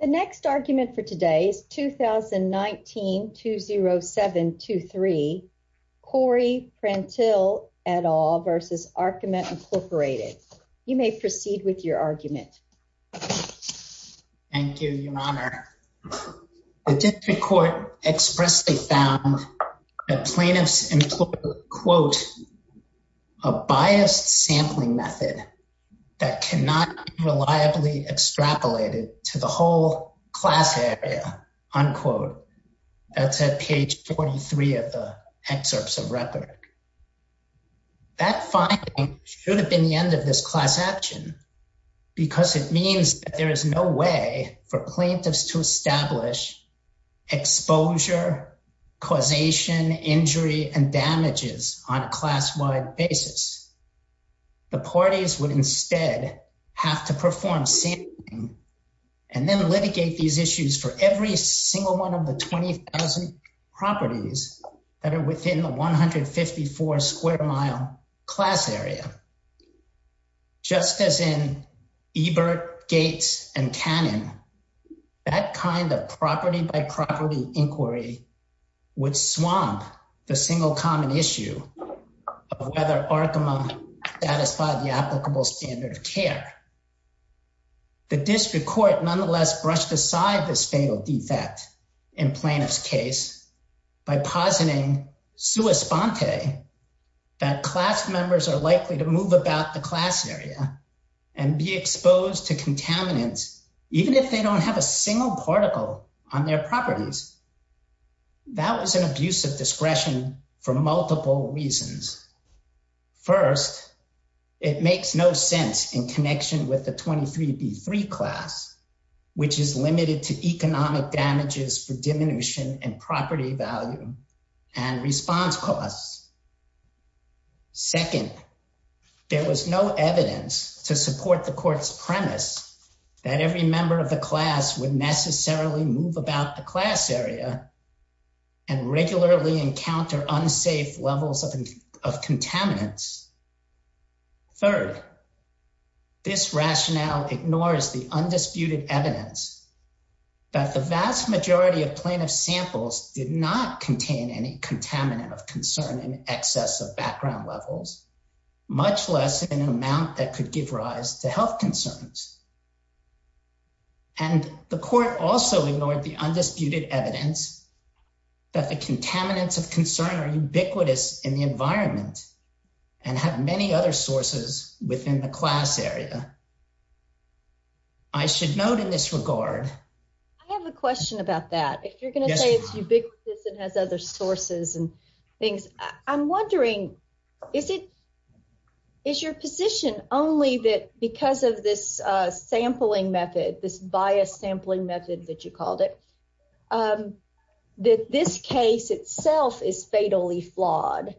The next argument for today is 2019-20723, Corey Prantill et al. v. Arkema Incorporated. You may proceed with your argument. Thank you, Your Honor. The District Court expressly found that plaintiffs employed quote, a biased sampling method that cannot be reliably extrapolated to the whole class area, unquote. That's at page 43 of the excerpts of record. That finding should have been the end of this class action because it means that there is no way for plaintiffs to establish exposure, causation, injury, and damages on a class-wide basis. The parties would instead have to perform sampling and then litigate these issues for every single one of the 20,000 properties that are within the 154 square mile class area. Just as in Ebert, Gates, and Cannon, that kind of property-by-property inquiry would swamp the single common issue of whether Arkema satisfied the applicable standard of care. The District Court nonetheless brushed aside this fatal defect in plaintiff's case by positing, sua sponte, that class members are likely to move about the class area and be exposed to contaminants even if they don't have a single particle on their properties. That was an abuse of discretion for multiple reasons. First, it makes no sense in connection with the 23b3 class, which is limited to economic damages for diminution and property value and response costs. Second, there was no evidence to support the court's premise that every member of the class would necessarily move about the class area and regularly encounter unsafe levels of contaminants. Third, this rationale ignores the undisputed evidence that the vast majority of plaintiff's samples did not contain any contaminant of concern in excess of background levels, much less in an amount that could give rise to health concerns. And the court also ignored the undisputed evidence that the contaminants of concern are ubiquitous in the environment and have many other sources within the class area. I should note in this regard. I have a question about that. If you're going to say it's ubiquitous and has other sources and things, I'm wondering, is it, is your position only that because of this sampling method, this bias sampling method that you called it, that this case itself is fatally flawed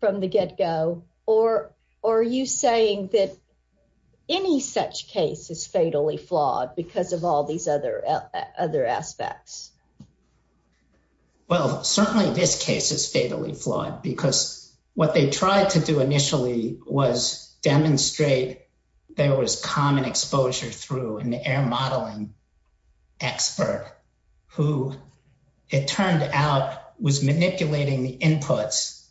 from the get-go? Or are you saying that any such case is fatally flawed because of all these other aspects? Well, certainly this case is fatally flawed because what they tried to do initially was who it turned out was manipulating the inputs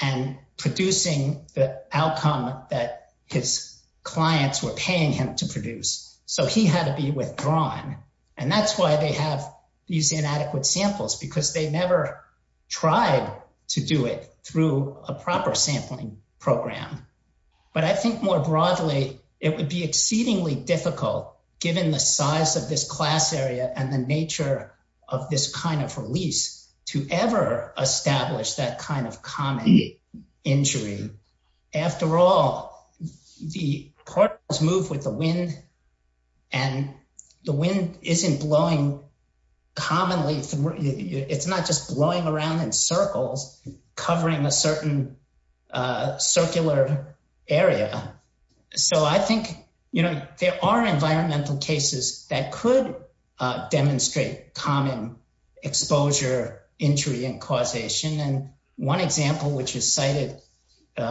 and producing the outcome that his clients were paying him to produce. So he had to be withdrawn. And that's why they have these inadequate samples, because they never tried to do it through a proper sampling program. But I think more broadly, it would be exceedingly difficult given the size of this class area and the nature of this kind of release to ever establish that kind of common injury. After all, the particles move with the wind and the wind isn't blowing commonly. It's not just blowing around in circles, covering a certain circular area. So I think, you know, there are environmental cases that could demonstrate common exposure, injury, and causation. And one example, which is cited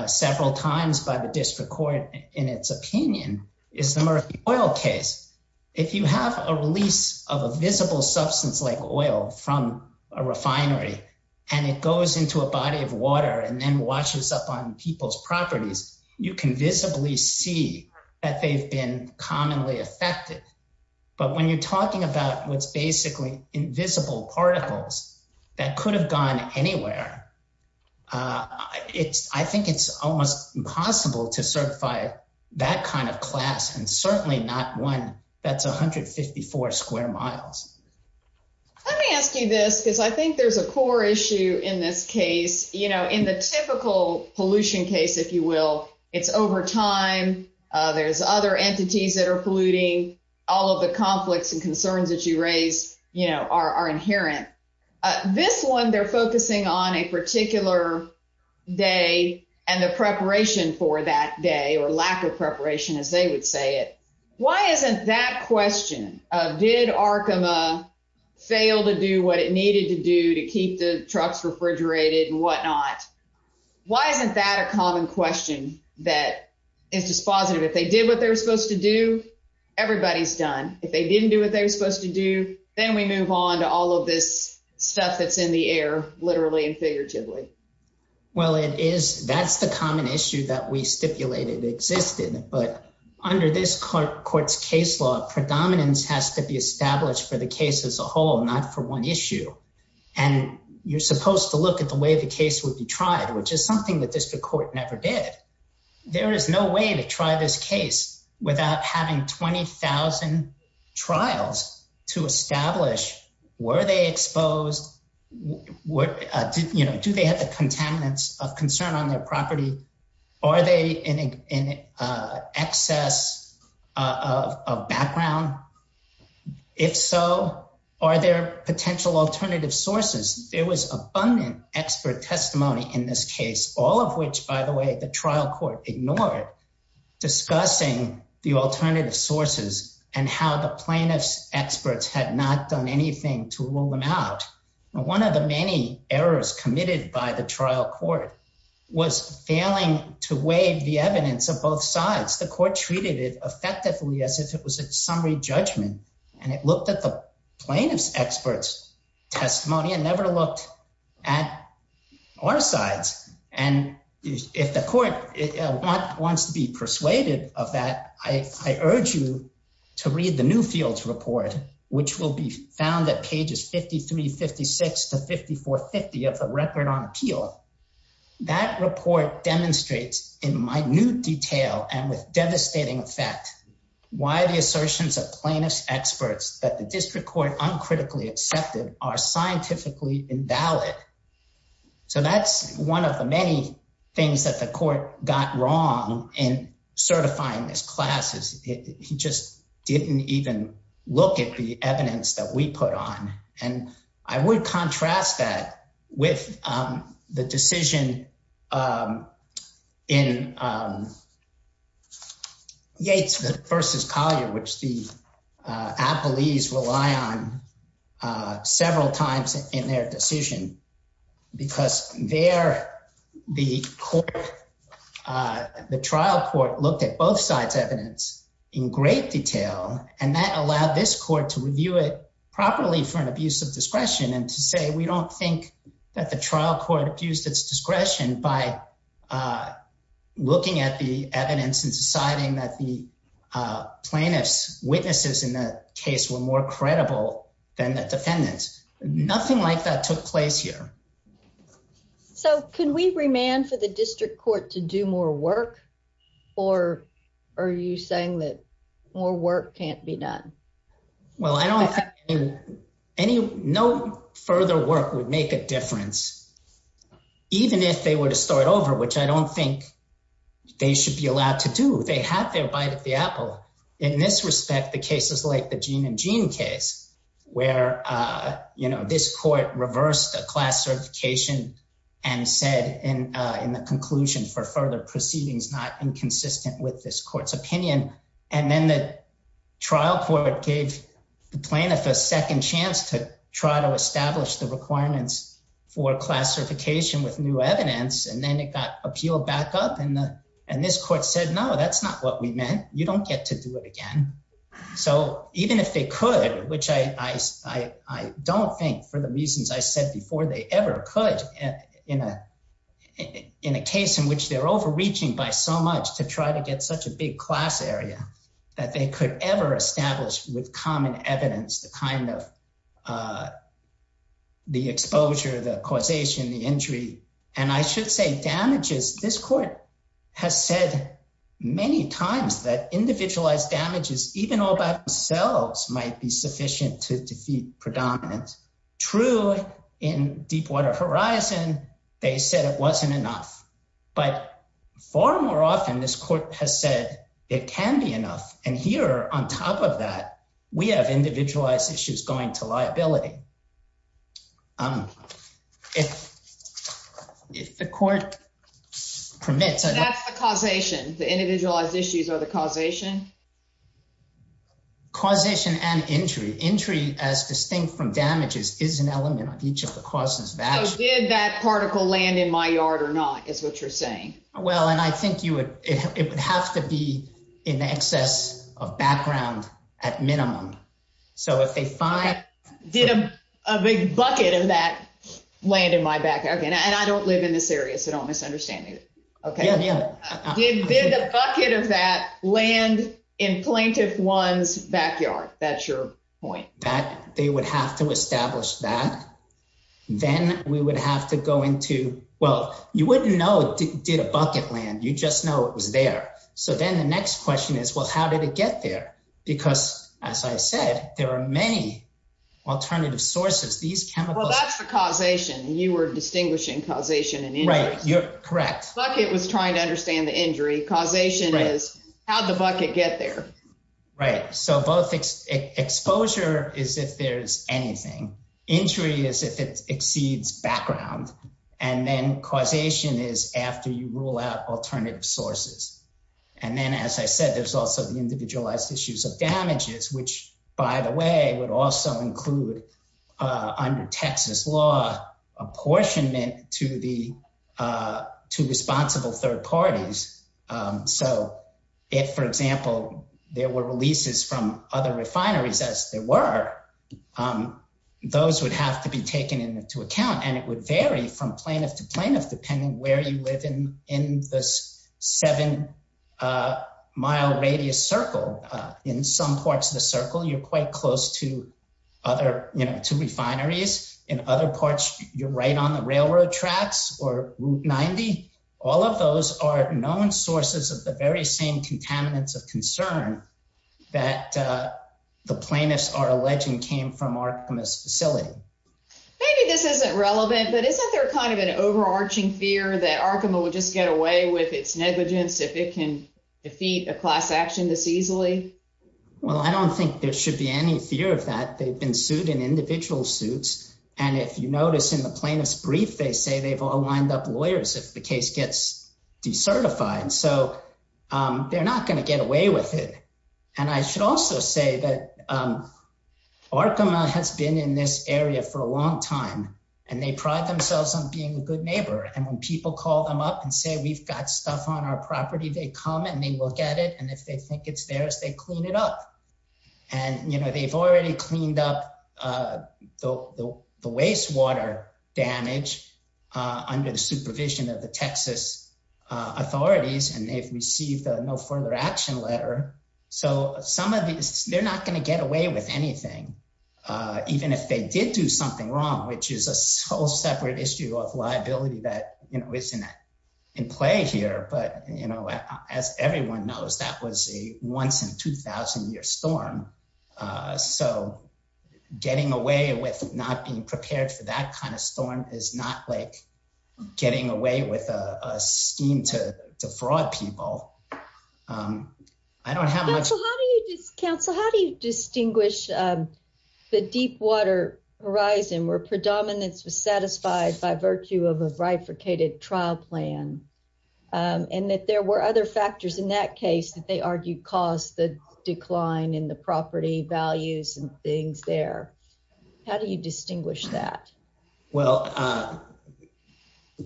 several times by the district court in its opinion, is the Murphy oil case. If you have a release of a visible substance like oil from a refinery, and it goes into a body of water and then washes up on people's properties, you can visibly see that they've been commonly affected. But when you're talking about what's basically invisible particles that could have gone anywhere, I think it's almost impossible to certify that kind of class, and certainly not one that's 154 square miles. Let me ask you this, because I think there's a core issue in this case. You know, in the typical pollution case, if you will, it's over time. There's other entities that are polluting. All of the conflicts and concerns that you raise, you know, are inherent. This one, they're focusing on a particular day and the preparation for that day, or lack of preparation, as they would say it. Why isn't that question of, did Arkema fail to do what it needed to do to keep the trucks refrigerated and whatnot, why isn't that a common question that is dispositive? If they did what they were supposed to do, everybody's done. If they didn't do what they were supposed to do, then we move on to all of this stuff that's in the air, literally and figuratively. Well, it is. That's the common issue that we stipulated existed. But under this court's case law, predominance has to be established for the case as a whole, not for one issue. And you're supposed to look at the way the case would be tried, which is something that without having 20,000 trials to establish, were they exposed? Do they have the contaminants of concern on their property? Are they in excess of background? If so, are there potential alternative sources? There was abundant expert testimony in this case, all of which, by the way, the trial court ignored, discussing the alternative sources and how the plaintiff's experts had not done anything to rule them out. One of the many errors committed by the trial court was failing to waive the evidence of both sides. The court treated it effectively as if it was a summary judgment, and it looked at the plaintiff's experts' testimony and never looked at our sides. And if the court wants to be persuaded of that, I urge you to read the Newfields report, which will be found at pages 53, 56, to 54, 50 of the record on appeal. That report demonstrates in minute detail and with devastating effect why the assertions of plaintiff's experts that the district court uncritically accepted are scientifically invalid. So that's one of the many things that the court got wrong in certifying this class. He just didn't even look at the evidence that we put on. And I would contrast that with the decision in Yates v. Collier, which the appellees rely on several times in their decision because there the trial court looked at both sides' evidence in great detail, and that allowed this court to review it properly for an abuse of discretion and to say, we don't think that the trial court abused its discretion by looking at the evidence and deciding that the plaintiff's case was more credible than the defendant's. Nothing like that took place here. So can we remand for the district court to do more work, or are you saying that more work can't be done? Well, I don't think any further work would make a difference, even if they were to start over, which I don't think they should be allowed to do. They had their bite at the apple. In this respect, the cases like the gene and gene case, where this court reversed a class certification and said in the conclusion for further proceedings, not inconsistent with this court's opinion. And then the trial court gave the plaintiff a second chance to try to establish the requirements for class certification with new evidence. And then it got appealed back up, and this court said, no, that's not what we meant. You don't get to do it again. So even if they could, which I don't think, for the reasons I said before, they ever could in a case in which they're overreaching by so much to try to get such a big class area, that they could ever establish with common evidence the exposure, the causation, the injury, and I should say damages. This court has said many times that individualized damages, even all by themselves, might be sufficient to defeat predominance. True, in Deepwater Horizon, they said it wasn't enough. But far more often, this court has said it can be enough. And here, on top of that, we have individualized issues going to liability. If the court permits... That's the causation. The individualized issues are the causation? Causation and injury. Injury, as distinct from damages, is an element of each of the causes of action. So did that particle land in my yard or not, is what you're saying? Well, and I think it would have to be in the excess of background at minimum. So if they find... Did a big bucket of that land in my backyard? And I don't live in this area, so don't misunderstand me. Did the bucket of that land in plaintiff one's backyard? That's your point. That, they would have to establish that. Then we would have to go into, well, you wouldn't know did a bucket land. You'd just know it was there. So then the next question is, well, how did it get there? Because as I said, there are many alternative sources. These chemicals... Well, that's the causation. You were distinguishing causation and injury. Right. You're correct. Bucket was trying to understand the injury. Causation is, how'd the bucket get there? Right. So both exposure is if there's anything. Injury is if it exceeds background. And then causation is after you rule out alternative sources. And then, as I said, there's also the individualized issues of damages, which, by the way, would also include, under Texas law, apportionment to responsible third parties. So if, for example, there were releases from other refineries, as there were, those would have to be taken into account. And it would vary from plaintiff to plaintiff, depending where you live in this seven-mile radius circle. In some parts of the circle, you're quite close to refineries. In other parts, you're right on the railroad tracks or Route 90. All of those are known sources of the very same contaminants of concern that the plaintiffs are alleging came from Arkema's facility. Maybe this isn't relevant, but isn't there kind of an overarching fear that Arkema would just get away with its negligence if it can defeat a class action this easily? Well, I don't think there should be any fear of that. They've been sued in individual suits. And if you notice in the case gets decertified, so they're not going to get away with it. And I should also say that Arkema has been in this area for a long time, and they pride themselves on being a good neighbor. And when people call them up and say, we've got stuff on our property, they come and they look at it. And if they think it's theirs, they clean it up. And, you know, they've already cleaned up the wastewater damage under the supervision of the Texas authorities, and they've received a no further action letter. So some of these, they're not going to get away with anything, even if they did do something wrong, which is a whole separate issue of liability that, you know, isn't in play here. But, you know, as everyone knows, that was a once in 2000 year storm. So getting away with not being prepared for that kind of storm is not like getting away with a scheme to fraud people. I don't have much- Counsel, how do you distinguish the deep water horizon where predominance was satisfied by virtue of a bifurcated trial plan, and that there were other factors in that case that they argued caused the decline in the property values and things there? How do you distinguish that? Well,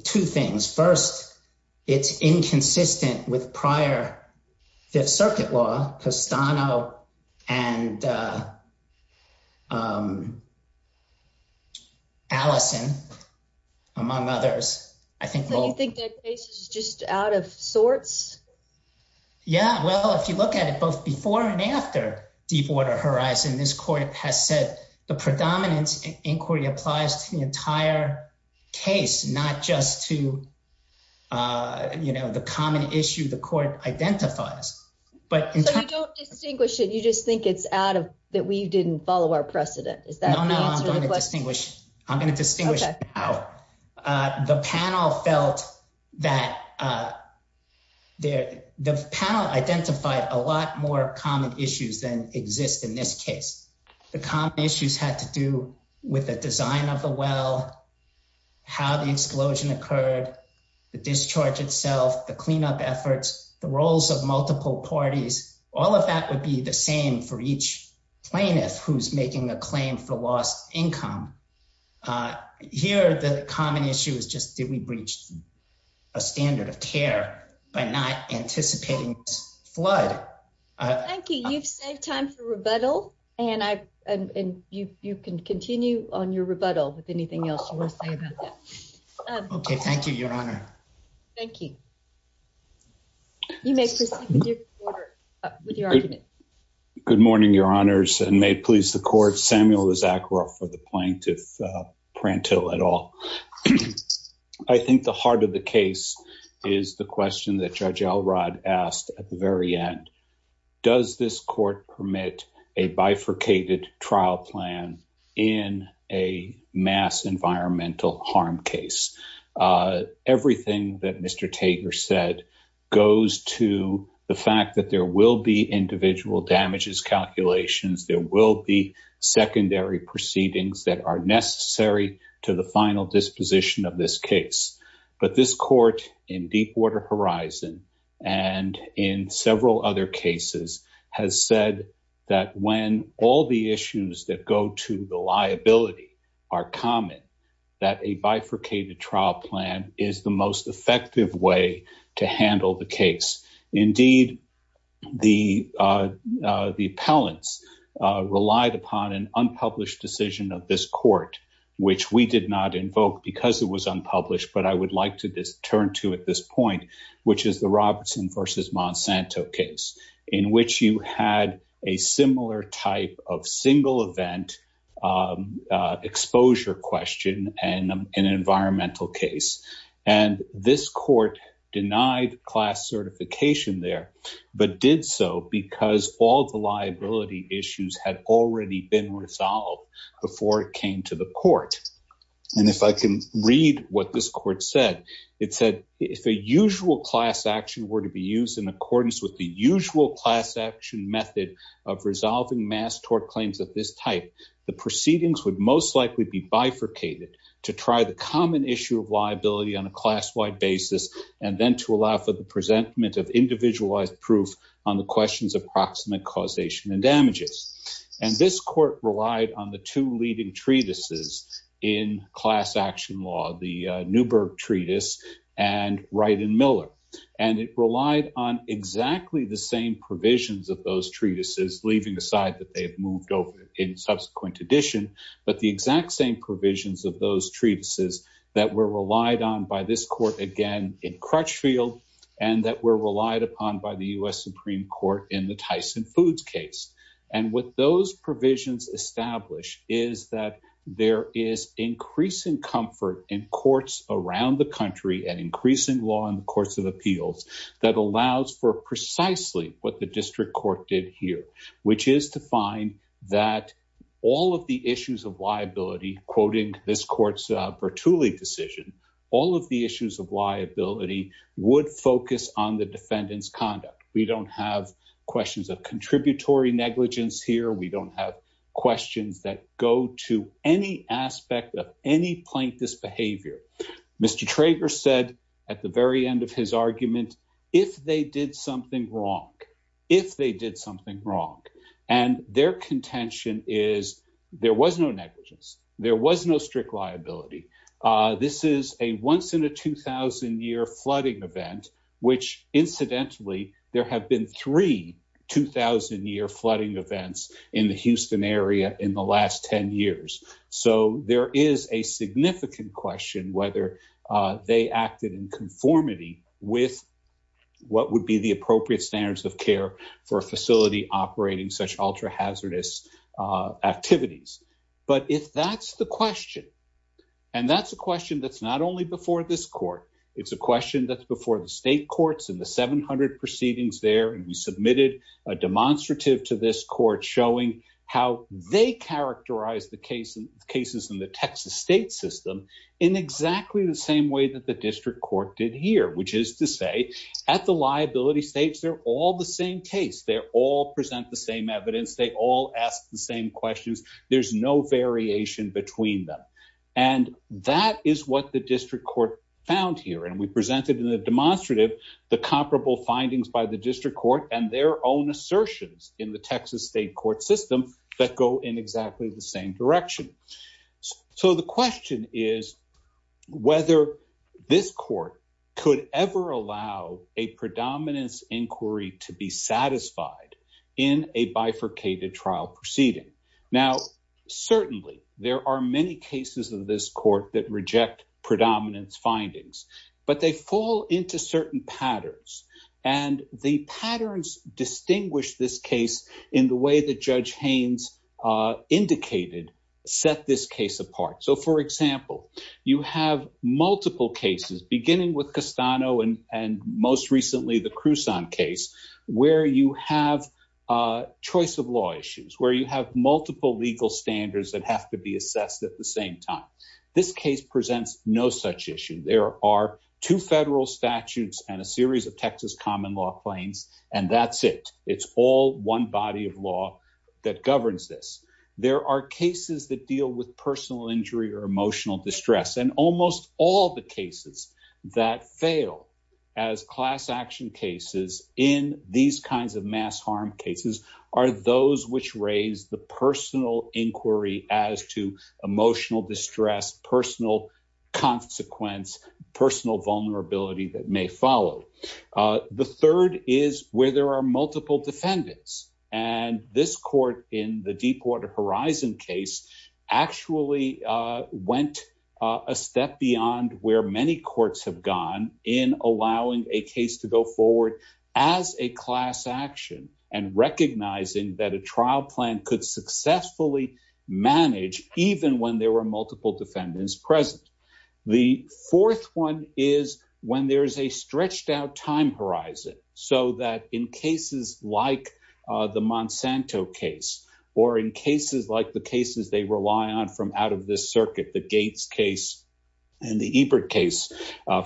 two things. First, it's inconsistent with prior Fifth Circuit law, Costano and Allison, among others. I think- So you think that case is just out of sorts? Yeah, well, if you look at it both before and after deep water horizon, this court has said the predominance inquiry applies to the entire case, not just to, you know, the common issue the court identifies. But- So you don't distinguish it, you just think it's out of, that we didn't follow our precedent. Is that the answer to the question? No, no, I'm going to distinguish. I'm going to distinguish now. The panel felt that- the panel identified a lot more common issues than exist in this case. The common issues had to do with the design of the well, how the explosion occurred, the discharge itself, the cleanup efforts, the roles of multiple parties. All of that would be the same for each plaintiff who's making a claim for lost income. Uh, here, the common issue is just, did we breach a standard of care by not anticipating this flood? Thank you. You've saved time for rebuttal, and I- and you can continue on your rebuttal with anything else you want to say about that. Okay, thank you, Your Honor. Thank you. You may proceed with your argument. Good morning, Your Honors, and may it please the Court, Samuel Issacharoff for the plaintiff, Prantil, et al. I think the heart of the case is the question that Judge Elrod asked at the very end. Does this court permit a bifurcated trial plan in a mass environmental harm case? Uh, calculations. There will be secondary proceedings that are necessary to the final disposition of this case, but this court in Deepwater Horizon and in several other cases has said that when all the issues that go to the liability are common, that a bifurcated trial plan is the effective way to handle the case. Indeed, the, uh, the appellants relied upon an unpublished decision of this court, which we did not invoke because it was unpublished, but I would like to turn to at this point, which is the Robertson v. Monsanto case, in which you had a similar type of single event exposure question and an environmental case. And this court denied class certification there, but did so because all the liability issues had already been resolved before it came to the court. And if I can read what this court said, it said, if a usual class action were to be used in accordance with the usual class action method of resolving mass tort claims of this type, the proceedings would most likely be bifurcated to try the common issue of liability on a class-wide basis, and then to allow for the presentment of individualized proof on the questions of proximate causation and damages. And this court relied on the two leading treatises in class action law, the Newburgh treatise and And it relied on exactly the same provisions of those treatises, leaving aside that they have moved over in subsequent edition, but the exact same provisions of those treatises that were relied on by this court again in Crutchfield, and that were relied upon by the U.S. Supreme Court in the Tyson Foods case. And what those provisions establish is that there is increasing comfort in courts around the country and increasing law in the courts of appeals that allows for precisely what the district court did here, which is to find that all of the issues of liability, quoting this court's Bertulli decision, all of the issues of liability would focus on the defendant's conduct. We don't have questions of contributory negligence here. We don't have any aspect of any plaintiff's behavior. Mr. Trager said at the very end of his argument, if they did something wrong, if they did something wrong, and their contention is there was no negligence, there was no strict liability. This is a once in a 2,000-year flooding event, which incidentally, there have been three 2,000-year flooding events in the Houston area in the last 10 years. So there is a significant question whether they acted in conformity with what would be the appropriate standards of care for a facility operating such ultra-hazardous activities. But if that's the question, and that's a question that's not only before this court, it's a question that's before the state courts and the 700 proceedings there, and we submitted a demonstrative to this court showing how they characterize the cases in the Texas state system in exactly the same way that the district court did here, which is to say at the liability stage, they're all the same case. They all present the same evidence. They all ask the same questions. There's no variation between them, and that is what the district court found here, and we assertions in the Texas state court system that go in exactly the same direction. So the question is whether this court could ever allow a predominance inquiry to be satisfied in a bifurcated trial proceeding. Now, certainly, there are many cases in this court that reject predominance findings, but they fall into certain patterns, and the patterns distinguish this case in the way that Judge Haynes indicated set this case apart. So, for example, you have multiple cases, beginning with Castano and most recently the Cruzon case, where you have choice of law issues, where you have multiple legal standards that have to be assessed at the same time. This case presents no such issue. There are two federal statutes and a series of Texas common law claims, and that's it. It's all one body of law that governs this. There are cases that deal with personal injury or emotional distress, and almost all the cases that fail as class action cases in these kinds of mass harm cases are those which raise the personal inquiry as to emotional distress, personal consequence, personal vulnerability that may follow. The third is where there are multiple defendants, and this court in the Deepwater Horizon case actually went a step beyond where many courts have gone in allowing a case to go forward as a class action and recognizing that a trial plan could successfully manage even when there were multiple defendants present. The fourth one is when there's a stretched out time horizon, so that in cases like the Monsanto case or in cases like the cases they rely on from out of this circuit, the Gates case and the Ebert case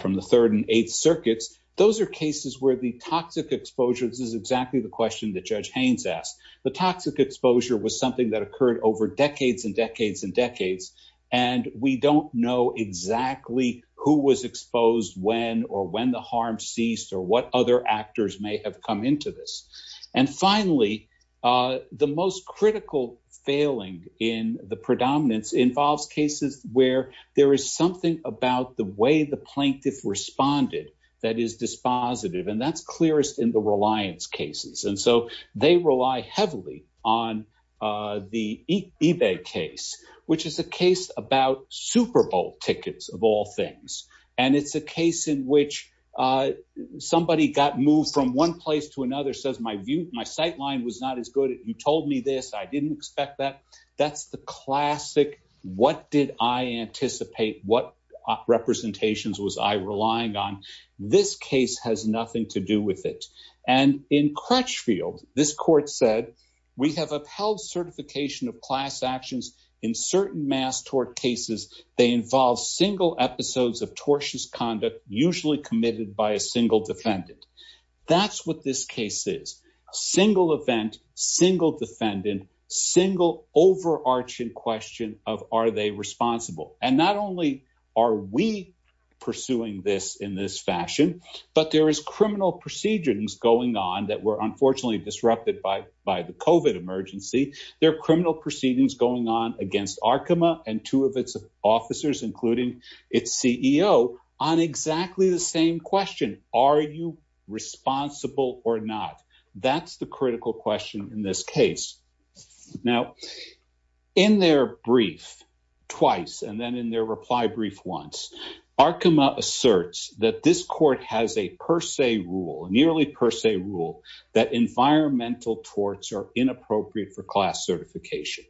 from the third and eighth circuits, those are cases where the toxic exposure, this is exactly the question that Judge Haynes asked, the toxic exposure was something that occurred over decades and decades and decades, and we don't know exactly who was exposed when or when the harm ceased or what other actors may have come into this. And finally, the most critical failing in the predominance involves cases where there is about the way the plaintiff responded that is dispositive, and that's clearest in the reliance cases. And so they rely heavily on the eBay case, which is a case about Super Bowl tickets of all things. And it's a case in which somebody got moved from one place to another, says, my view, my sight line was not as good. You told me this. I didn't expect that. That's the classic. What did I anticipate? What representations was I relying on? This case has nothing to do with it. And in Crutchfield, this court said, we have upheld certification of class actions in certain mass tort cases. They involve single episodes of tortious conduct, usually committed by a single defendant. That's what this case is. Single event, single defendant, single overarching question of are they responsible? And not only are we pursuing this in this fashion, but there is criminal procedures going on that were unfortunately disrupted by the COVID emergency. There are criminal proceedings going on against Arkema and two of its officers, including its CEO, on exactly the same question. Are you responsible or not? That's the critical question in this case. Now, in their brief, twice, and then in their reply brief once, Arkema asserts that this court has a per se rule, a nearly per se rule, that environmental torts are inappropriate for class certification.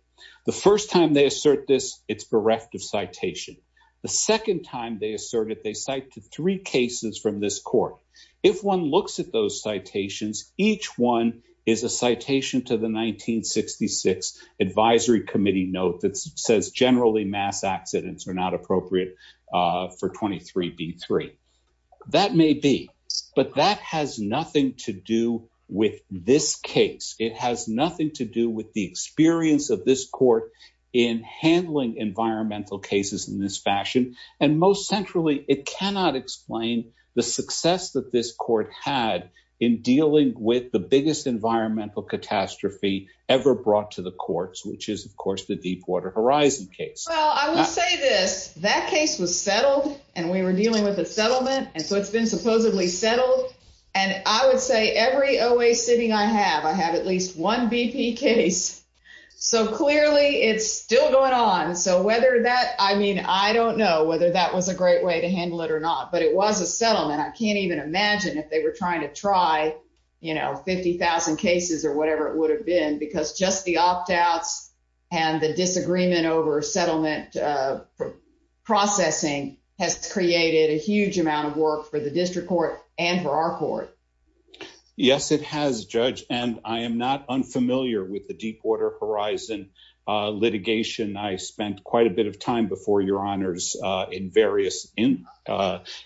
The first time they assert this, it's bereft of citation. The second time they assert it, they cite to three cases from this court. If one looks at those citations, each one is a citation to the 1966 advisory committee note that says generally mass accidents are not appropriate for 23B3. That may be, but that has nothing to do with this case. It has nothing to do with the experience of this court in handling environmental cases in this fashion. And most environmental catastrophe ever brought to the courts, which is of course the Deepwater Horizon case. Well, I will say this, that case was settled and we were dealing with a settlement, and so it's been supposedly settled. And I would say every OA sitting I have, I have at least one BP case. So clearly it's still going on. So whether that, I mean, I don't know whether that was a great way to handle it or not, but it was a settlement. I can't even imagine if they were 22,000 cases or whatever it would have been because just the opt-outs and the disagreement over settlement processing has created a huge amount of work for the district court and for our court. Yes, it has, Judge, and I am not unfamiliar with the Deepwater Horizon litigation. I spent quite a bit of time before your honors in various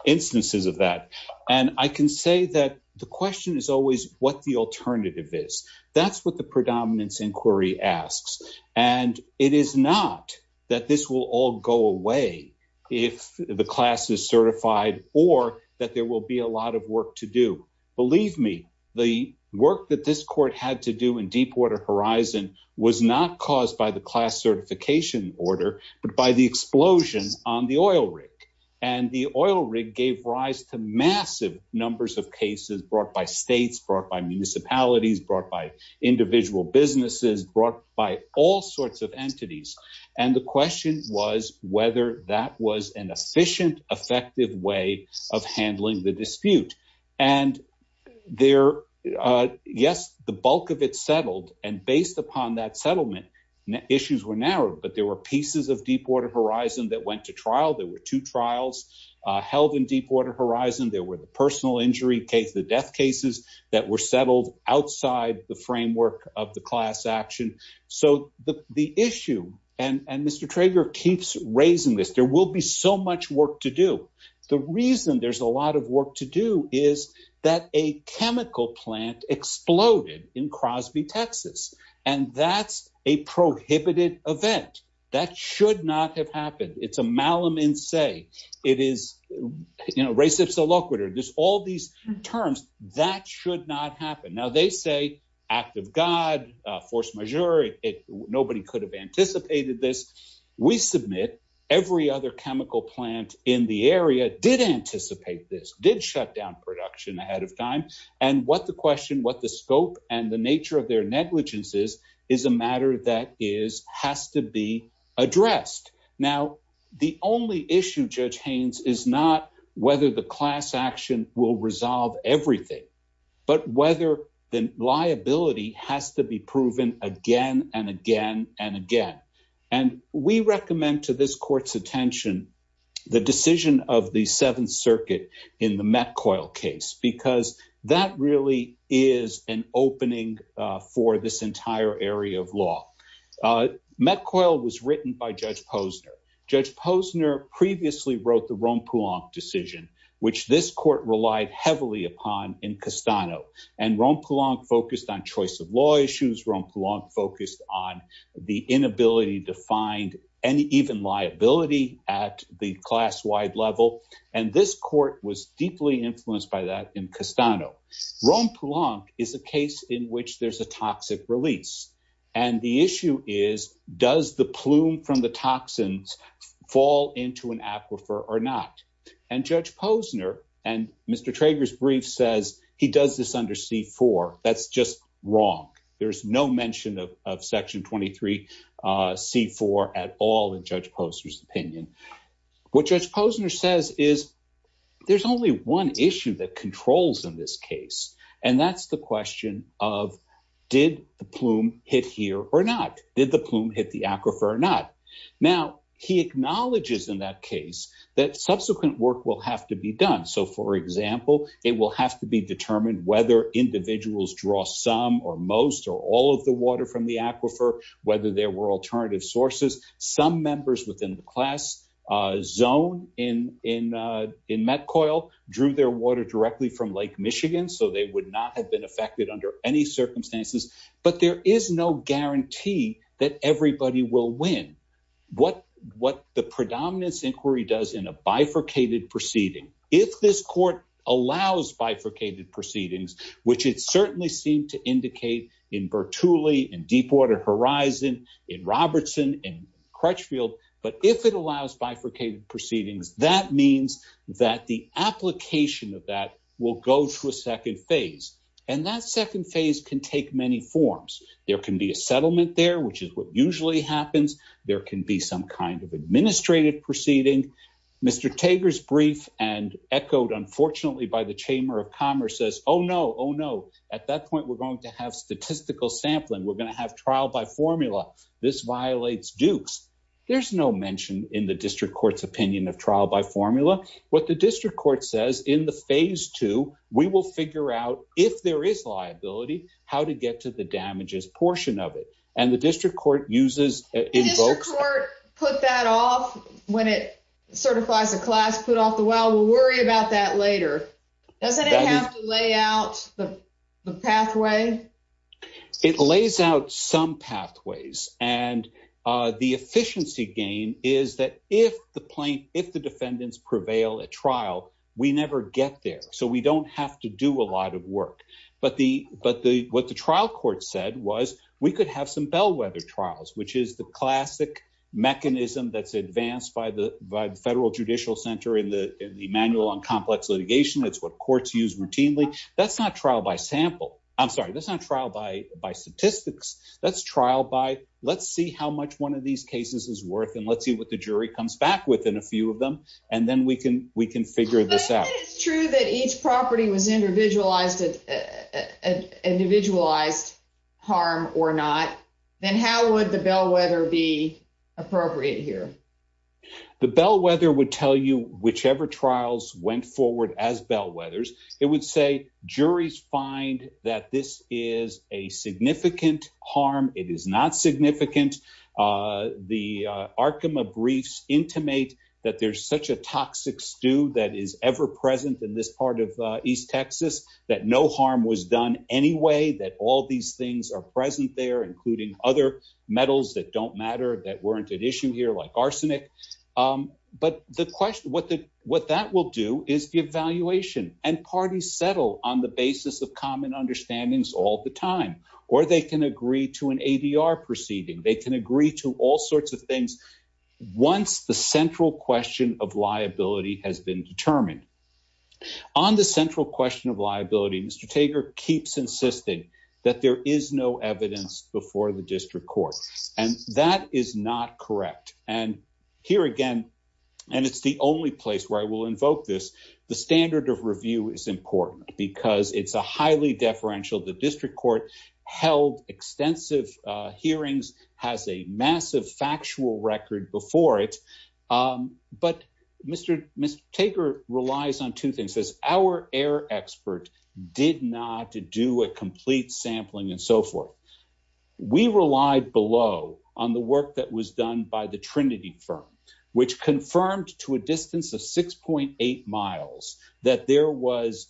instances of that. And I can say that the question is always what the alternative is. That's what the predominance inquiry asks. And it is not that this will all go away if the class is certified or that there will be a lot of work to do. Believe me, the work that this court had to do in Deepwater Horizon was not caused by the class certification order, but by the explosion on the oil rig. And the oil rig gave rise to massive numbers of cases brought by states, brought by municipalities, brought by individual businesses, brought by all sorts of entities. And the question was whether that was an efficient, effective way of handling the dispute. And yes, the bulk of it settled. And based upon that settlement, issues were narrowed, but there were pieces of Deepwater Horizon that went to trial. There were two trials held in Deepwater Horizon. There were the personal injury case, the death cases that were settled outside the framework of the class action. So the issue, and Mr. Trager keeps raising this, there will be so much work to do. The reason there's a lot of work to do is that a chemical plant exploded in Crosby, Texas, and that's a prohibited event. That should not have happened. It's a malum in se. It is, you know, res ipsa loquitur. There's all these terms that should not happen. Now they say, act of God, force majeure. Nobody could have anticipated this. We submit every other chemical plant in the area did anticipate this, did shut down production ahead of time. And what the question, what the scope and the nature of their negligence is, is a matter that has to be addressed. Now, the only issue, Judge Haynes, is not whether the class action will resolve everything, but whether the liability has to be proven again and again and again. And we recommend to this court's attention the decision of the Seventh Circuit in the Metcoil case, because that really is an opening for this entire area of law. Metcoil was written by Judge Posner. Judge Posner previously wrote the Ronpilonk decision, which this court relied heavily upon in Castano. And Ronpilonk focused on choice of And this court was deeply influenced by that in Castano. Ronpilonk is a case in which there's a toxic release. And the issue is, does the plume from the toxins fall into an aquifer or not? And Judge Posner and Mr. Trager's brief says he does this under C-4. That's just wrong. There's is, there's only one issue that controls in this case. And that's the question of, did the plume hit here or not? Did the plume hit the aquifer or not? Now, he acknowledges in that case that subsequent work will have to be done. So for example, it will have to be determined whether individuals draw some or most or all of the water from the aquifer, whether there were in Metcoil, drew their water directly from Lake Michigan, so they would not have been affected under any circumstances. But there is no guarantee that everybody will win. What the predominance inquiry does in a bifurcated proceeding, if this court allows bifurcated proceedings, which it certainly seemed to indicate in Bertulli, in Deepwater Horizon, in Robertson, in Crutchfield, but if it allows bifurcated proceedings, that means that the application of that will go to a second phase. And that second phase can take many forms. There can be a settlement there, which is what usually happens. There can be some kind of administrative proceeding. Mr. Tager's brief and echoed, unfortunately, by the Chamber of Commerce says, oh, no, oh, no. At that point, we're going to have statistical sampling. We're going to have by formula. This violates Duke's. There's no mention in the district court's opinion of trial by formula. What the district court says in the phase two, we will figure out if there is liability, how to get to the damages portion of it. And the district court uses invokes court put that off when it certifies a class put off the well. We'll worry about that later. Doesn't it have to lay out the pathway? It lays out some pathways. And the efficiency gain is that if the plaintiff, the defendants prevail at trial, we never get there. So we don't have to do a lot of work. But the but the what the trial court said was we could have some bellwether trials, which is the classic mechanism that's advanced by the by the federal judicial center in the manual on complex litigation. That's what courts use routinely. That's not trial by sample. I'm sorry. That's not trial by by statistics. That's trial by let's see how much one of these cases is worth. And let's see what the jury comes back with in a few of them. And then we can we can figure this out. It's true that each property was individualized at an individualized harm or not. Then how would the bellwether be appropriate here? The bellwether would tell you whichever trials went forward as bellwethers. It would say juries find that this is a significant harm. It is not significant. The Arkema briefs intimate that there's such a toxic stew that is ever present in this part of East Texas, that no harm was done anyway, that all these things are present there, including other metals that don't matter, that weren't an issue here like arsenic. But the question what the what that will do is the evaluation and parties settle on the basis of common understandings all the time, or they can agree to an ADR proceeding. They can agree to all sorts of things. Once the central question of liability has been determined on the central question of liability, Mr. Tager keeps insisting that there is no evidence before the district court. And that is not correct. And here again, and it's the only place where I will invoke this. The standard of review is important because it's a highly deferential. The district court held extensive hearings, has a massive factual record before it. But Mr. Tager relies on two things as our air expert did not do a complete sampling and so forth. We relied below on the work that was done by the Trinity firm, which confirmed to a distance of 6.8 miles that there was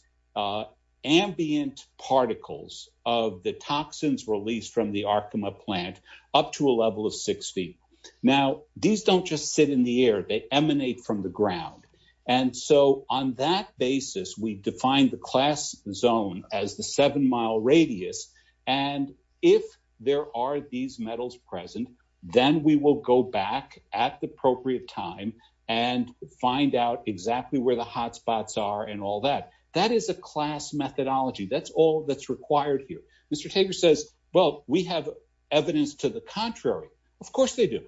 ambient particles of the toxins released from the Arkema plant up to a level of 60. Now, these don't just sit in the air, they emanate from the ground. And so on that basis, we define the class zone as the seven mile radius. And if there are these metals present, then we will go back at the appropriate time and find out exactly where the hotspots are and all that. That is a class methodology. That's all that's required here. Mr. Tager says, well, we have evidence to the contrary. Of course they do.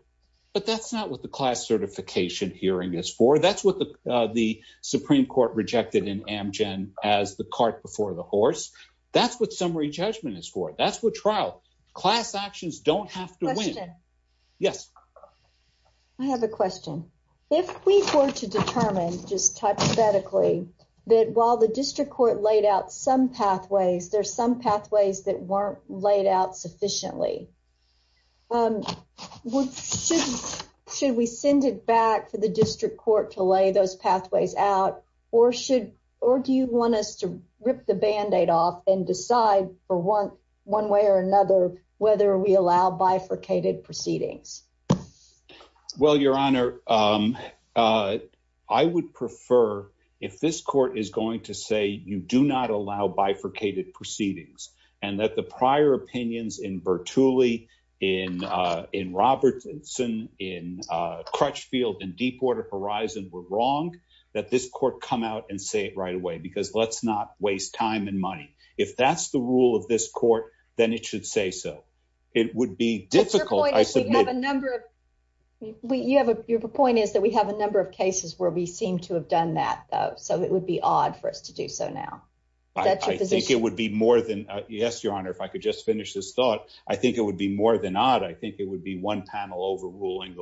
But that's not what the class certification hearing is for. That's what the Supreme Court rejected in Amgen as the cart before the horse. That's what summary judgment is for. That's what trial class actions don't have to win. Yes. I have a question. If we were to determine just hypothetically, that while the district court laid out some pathways, there's some pathways that weren't laid out sufficiently. Should we send it back for the district court to lay those pathways out or should or do you want us to rip the bandaid off and decide for one one way or another whether we allow bifurcated proceedings? Well, your honor, I would prefer if this court is going to say you do not allow bifurcated proceedings and that the prior opinions in Bertulli, in Robertson, in Crutchfield and Deepwater Horizon were wrong, that this court come out and say it right away because let's not waste time and money. If that's the rule of this court, then it should say so. It would be difficult. I said you have a number of you have a point is that we have a number of cases where we seem to have done that. So it would be odd for us to do so now. I think it would be more than yes, your honor. If I could just finish this thought, I think it would be more than odd. I think it would be one panel overruling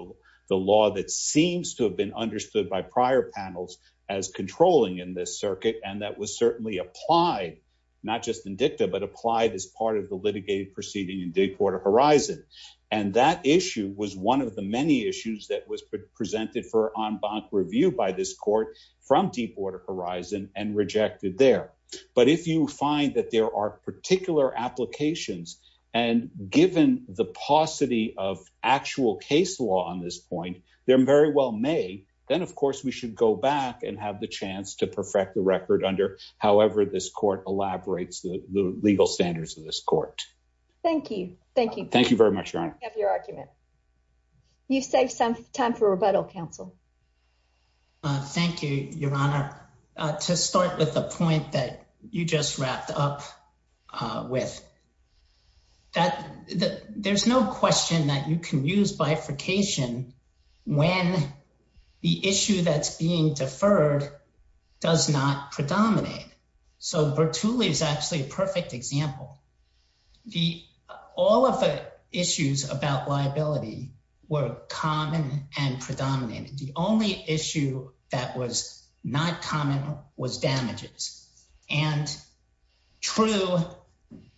the law that seems to have been understood by prior panels as controlling in this circuit. And that was certainly applied not just in dicta, but applied as part of the litigated proceeding in Deepwater Horizon. And that issue was one of the many issues that was presented for en banc review by this court from Deepwater Horizon and rejected there. But if you find that there are particular applications and given the paucity of actual case law on this point, they're very well made. Then, of course, we should go back and have the chance to perfect the record under however this court elaborates the legal standards of this court. Thank you. Thank you. Thank you very much. You have your argument. You save some time for rebuttal, counsel. Thank you, your honor. To start with the point that you just wrapped up with, that there's no question that you can use bifurcation when the issue that's being deferred does not predominate. So Bertulli is actually a perfect example. All of the issues about liability were common and predominated. The only issue that was not common was damages. And true,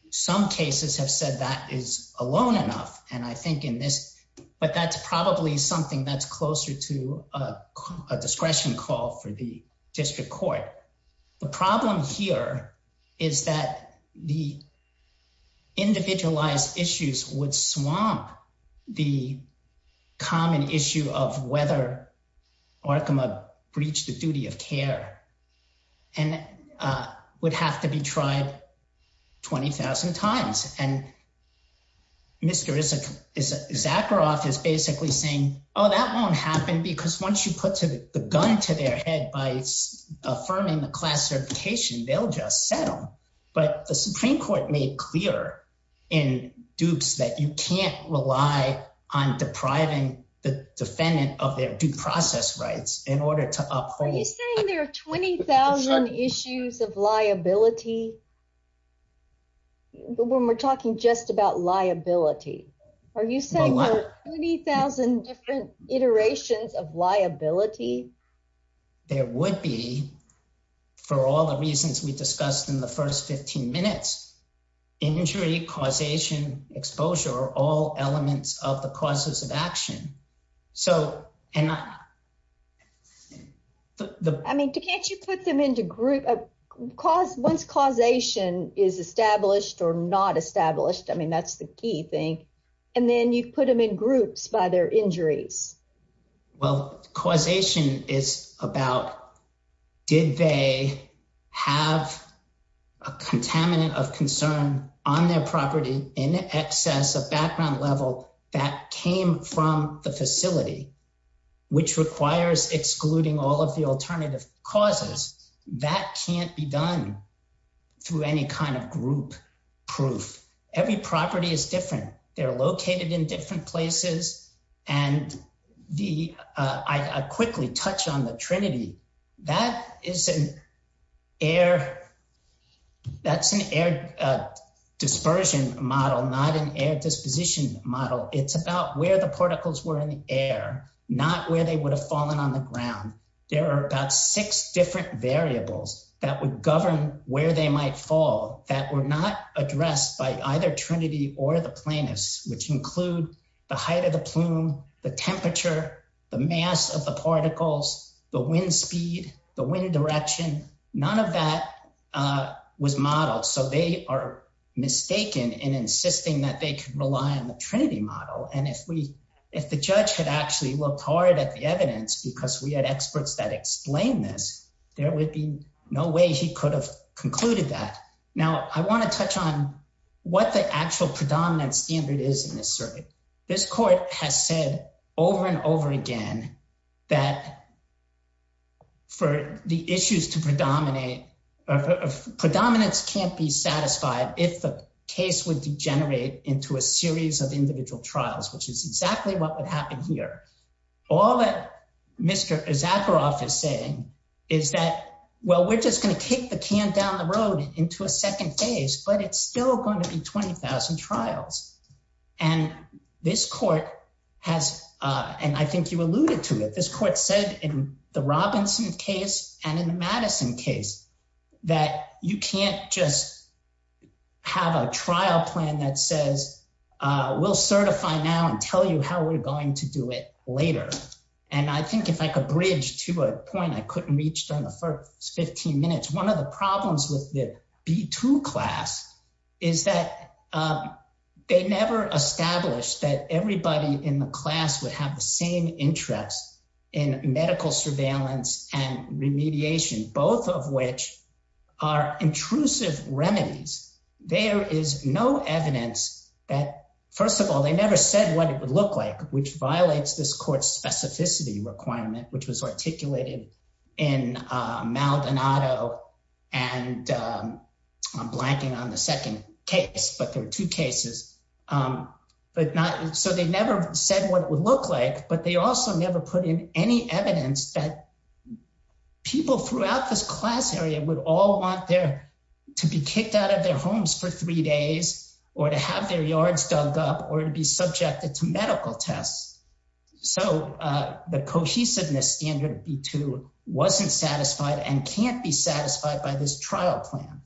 some cases have said that is alone enough. And I think in this, but that's probably something that's closer to a discretion call for the district court. The problem here is that the individualized issues would swamp the common issue of whether Arkema breached the duty of care and would have to be tried 20,000 times. And Mr. Zakharoff is basically saying, oh, that won't happen because once you put the gun to their head by affirming the classification, they'll just settle. But the Supreme Court made clear in dupes that you can't rely on depriving the defendant of their due process rights in order to uphold. Are you saying there are 20,000 issues of liability? When we're talking just about liability, are you saying there are 20,000 different iterations of liability? There would be, for all the reasons we discussed in the first 15 minutes, injury, causation, exposure are all elements of the causes of action. I mean, can't you put them into groups? Once causation is established or not established, I mean, that's the key thing. And then you put them in groups by their injuries. Well, causation is about did they have a contaminant of concern on their property in excess of background level that came from the facility, which requires excluding all of the alternative causes. That can't be done through any kind of group proof. Every property is different. They're located in different places. And I quickly touch on the Trinity. That's an air dispersion model, not an air disposition model. It's about where the particles were in the air, not where they would have fallen on the ground. There are about six different variables that govern where they might fall that were not addressed by either Trinity or the plaintiffs, which include the height of the plume, the temperature, the mass of the particles, the wind speed, the wind direction. None of that was modeled. So they are mistaken in insisting that they can rely on the Trinity model. And if the judge had actually looked hard at the evidence, because we had experts that explain this, there would be no way he could have concluded that. Now, I want to touch on what the actual predominant standard is in this circuit. This court has said over and over again that for the issues to predominate, predominance can't be satisfied if the case would degenerate into a series of individual trials, which is exactly what would happen here. All that Mr. Zakharoff is saying is that, well, we're just going to kick the can down the road into a second phase, but it's still going to be 20,000 trials. And this court has, and I think you alluded to it, this court said in the Robinson case and in the Madison case, that you can't just have a trial plan that says, we'll certify now and tell you how we're going to do it later. And I think if I could bridge to a point I couldn't reach during the first 15 minutes, one of the problems with the B2 class is that they never established that everybody in the class would have the same interest in medical surveillance and remediation, both of which are intrusive remedies. There is no evidence that, first of all, they never said what it would look like, which violates this court's specificity requirement, which was articulated in Maldonado and I'm blanking on the second case, but there are two cases. So they never said what it would look like, but they also never put in any evidence that people throughout this class area would all want to be kicked out of their homes for three days or to have their yards dug up or to be subjected to medical tests. So the cohesiveness standard B2 wasn't satisfied and can't be satisfied by this trial plan.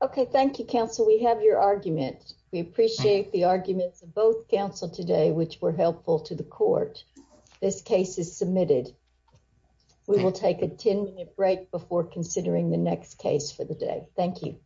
Okay. Thank you, counsel. We have your argument. We appreciate the arguments of both counsel today, which were helpful to the court. This case is submitted. We will take a 10-minute break before considering the next case for the day. Thank you.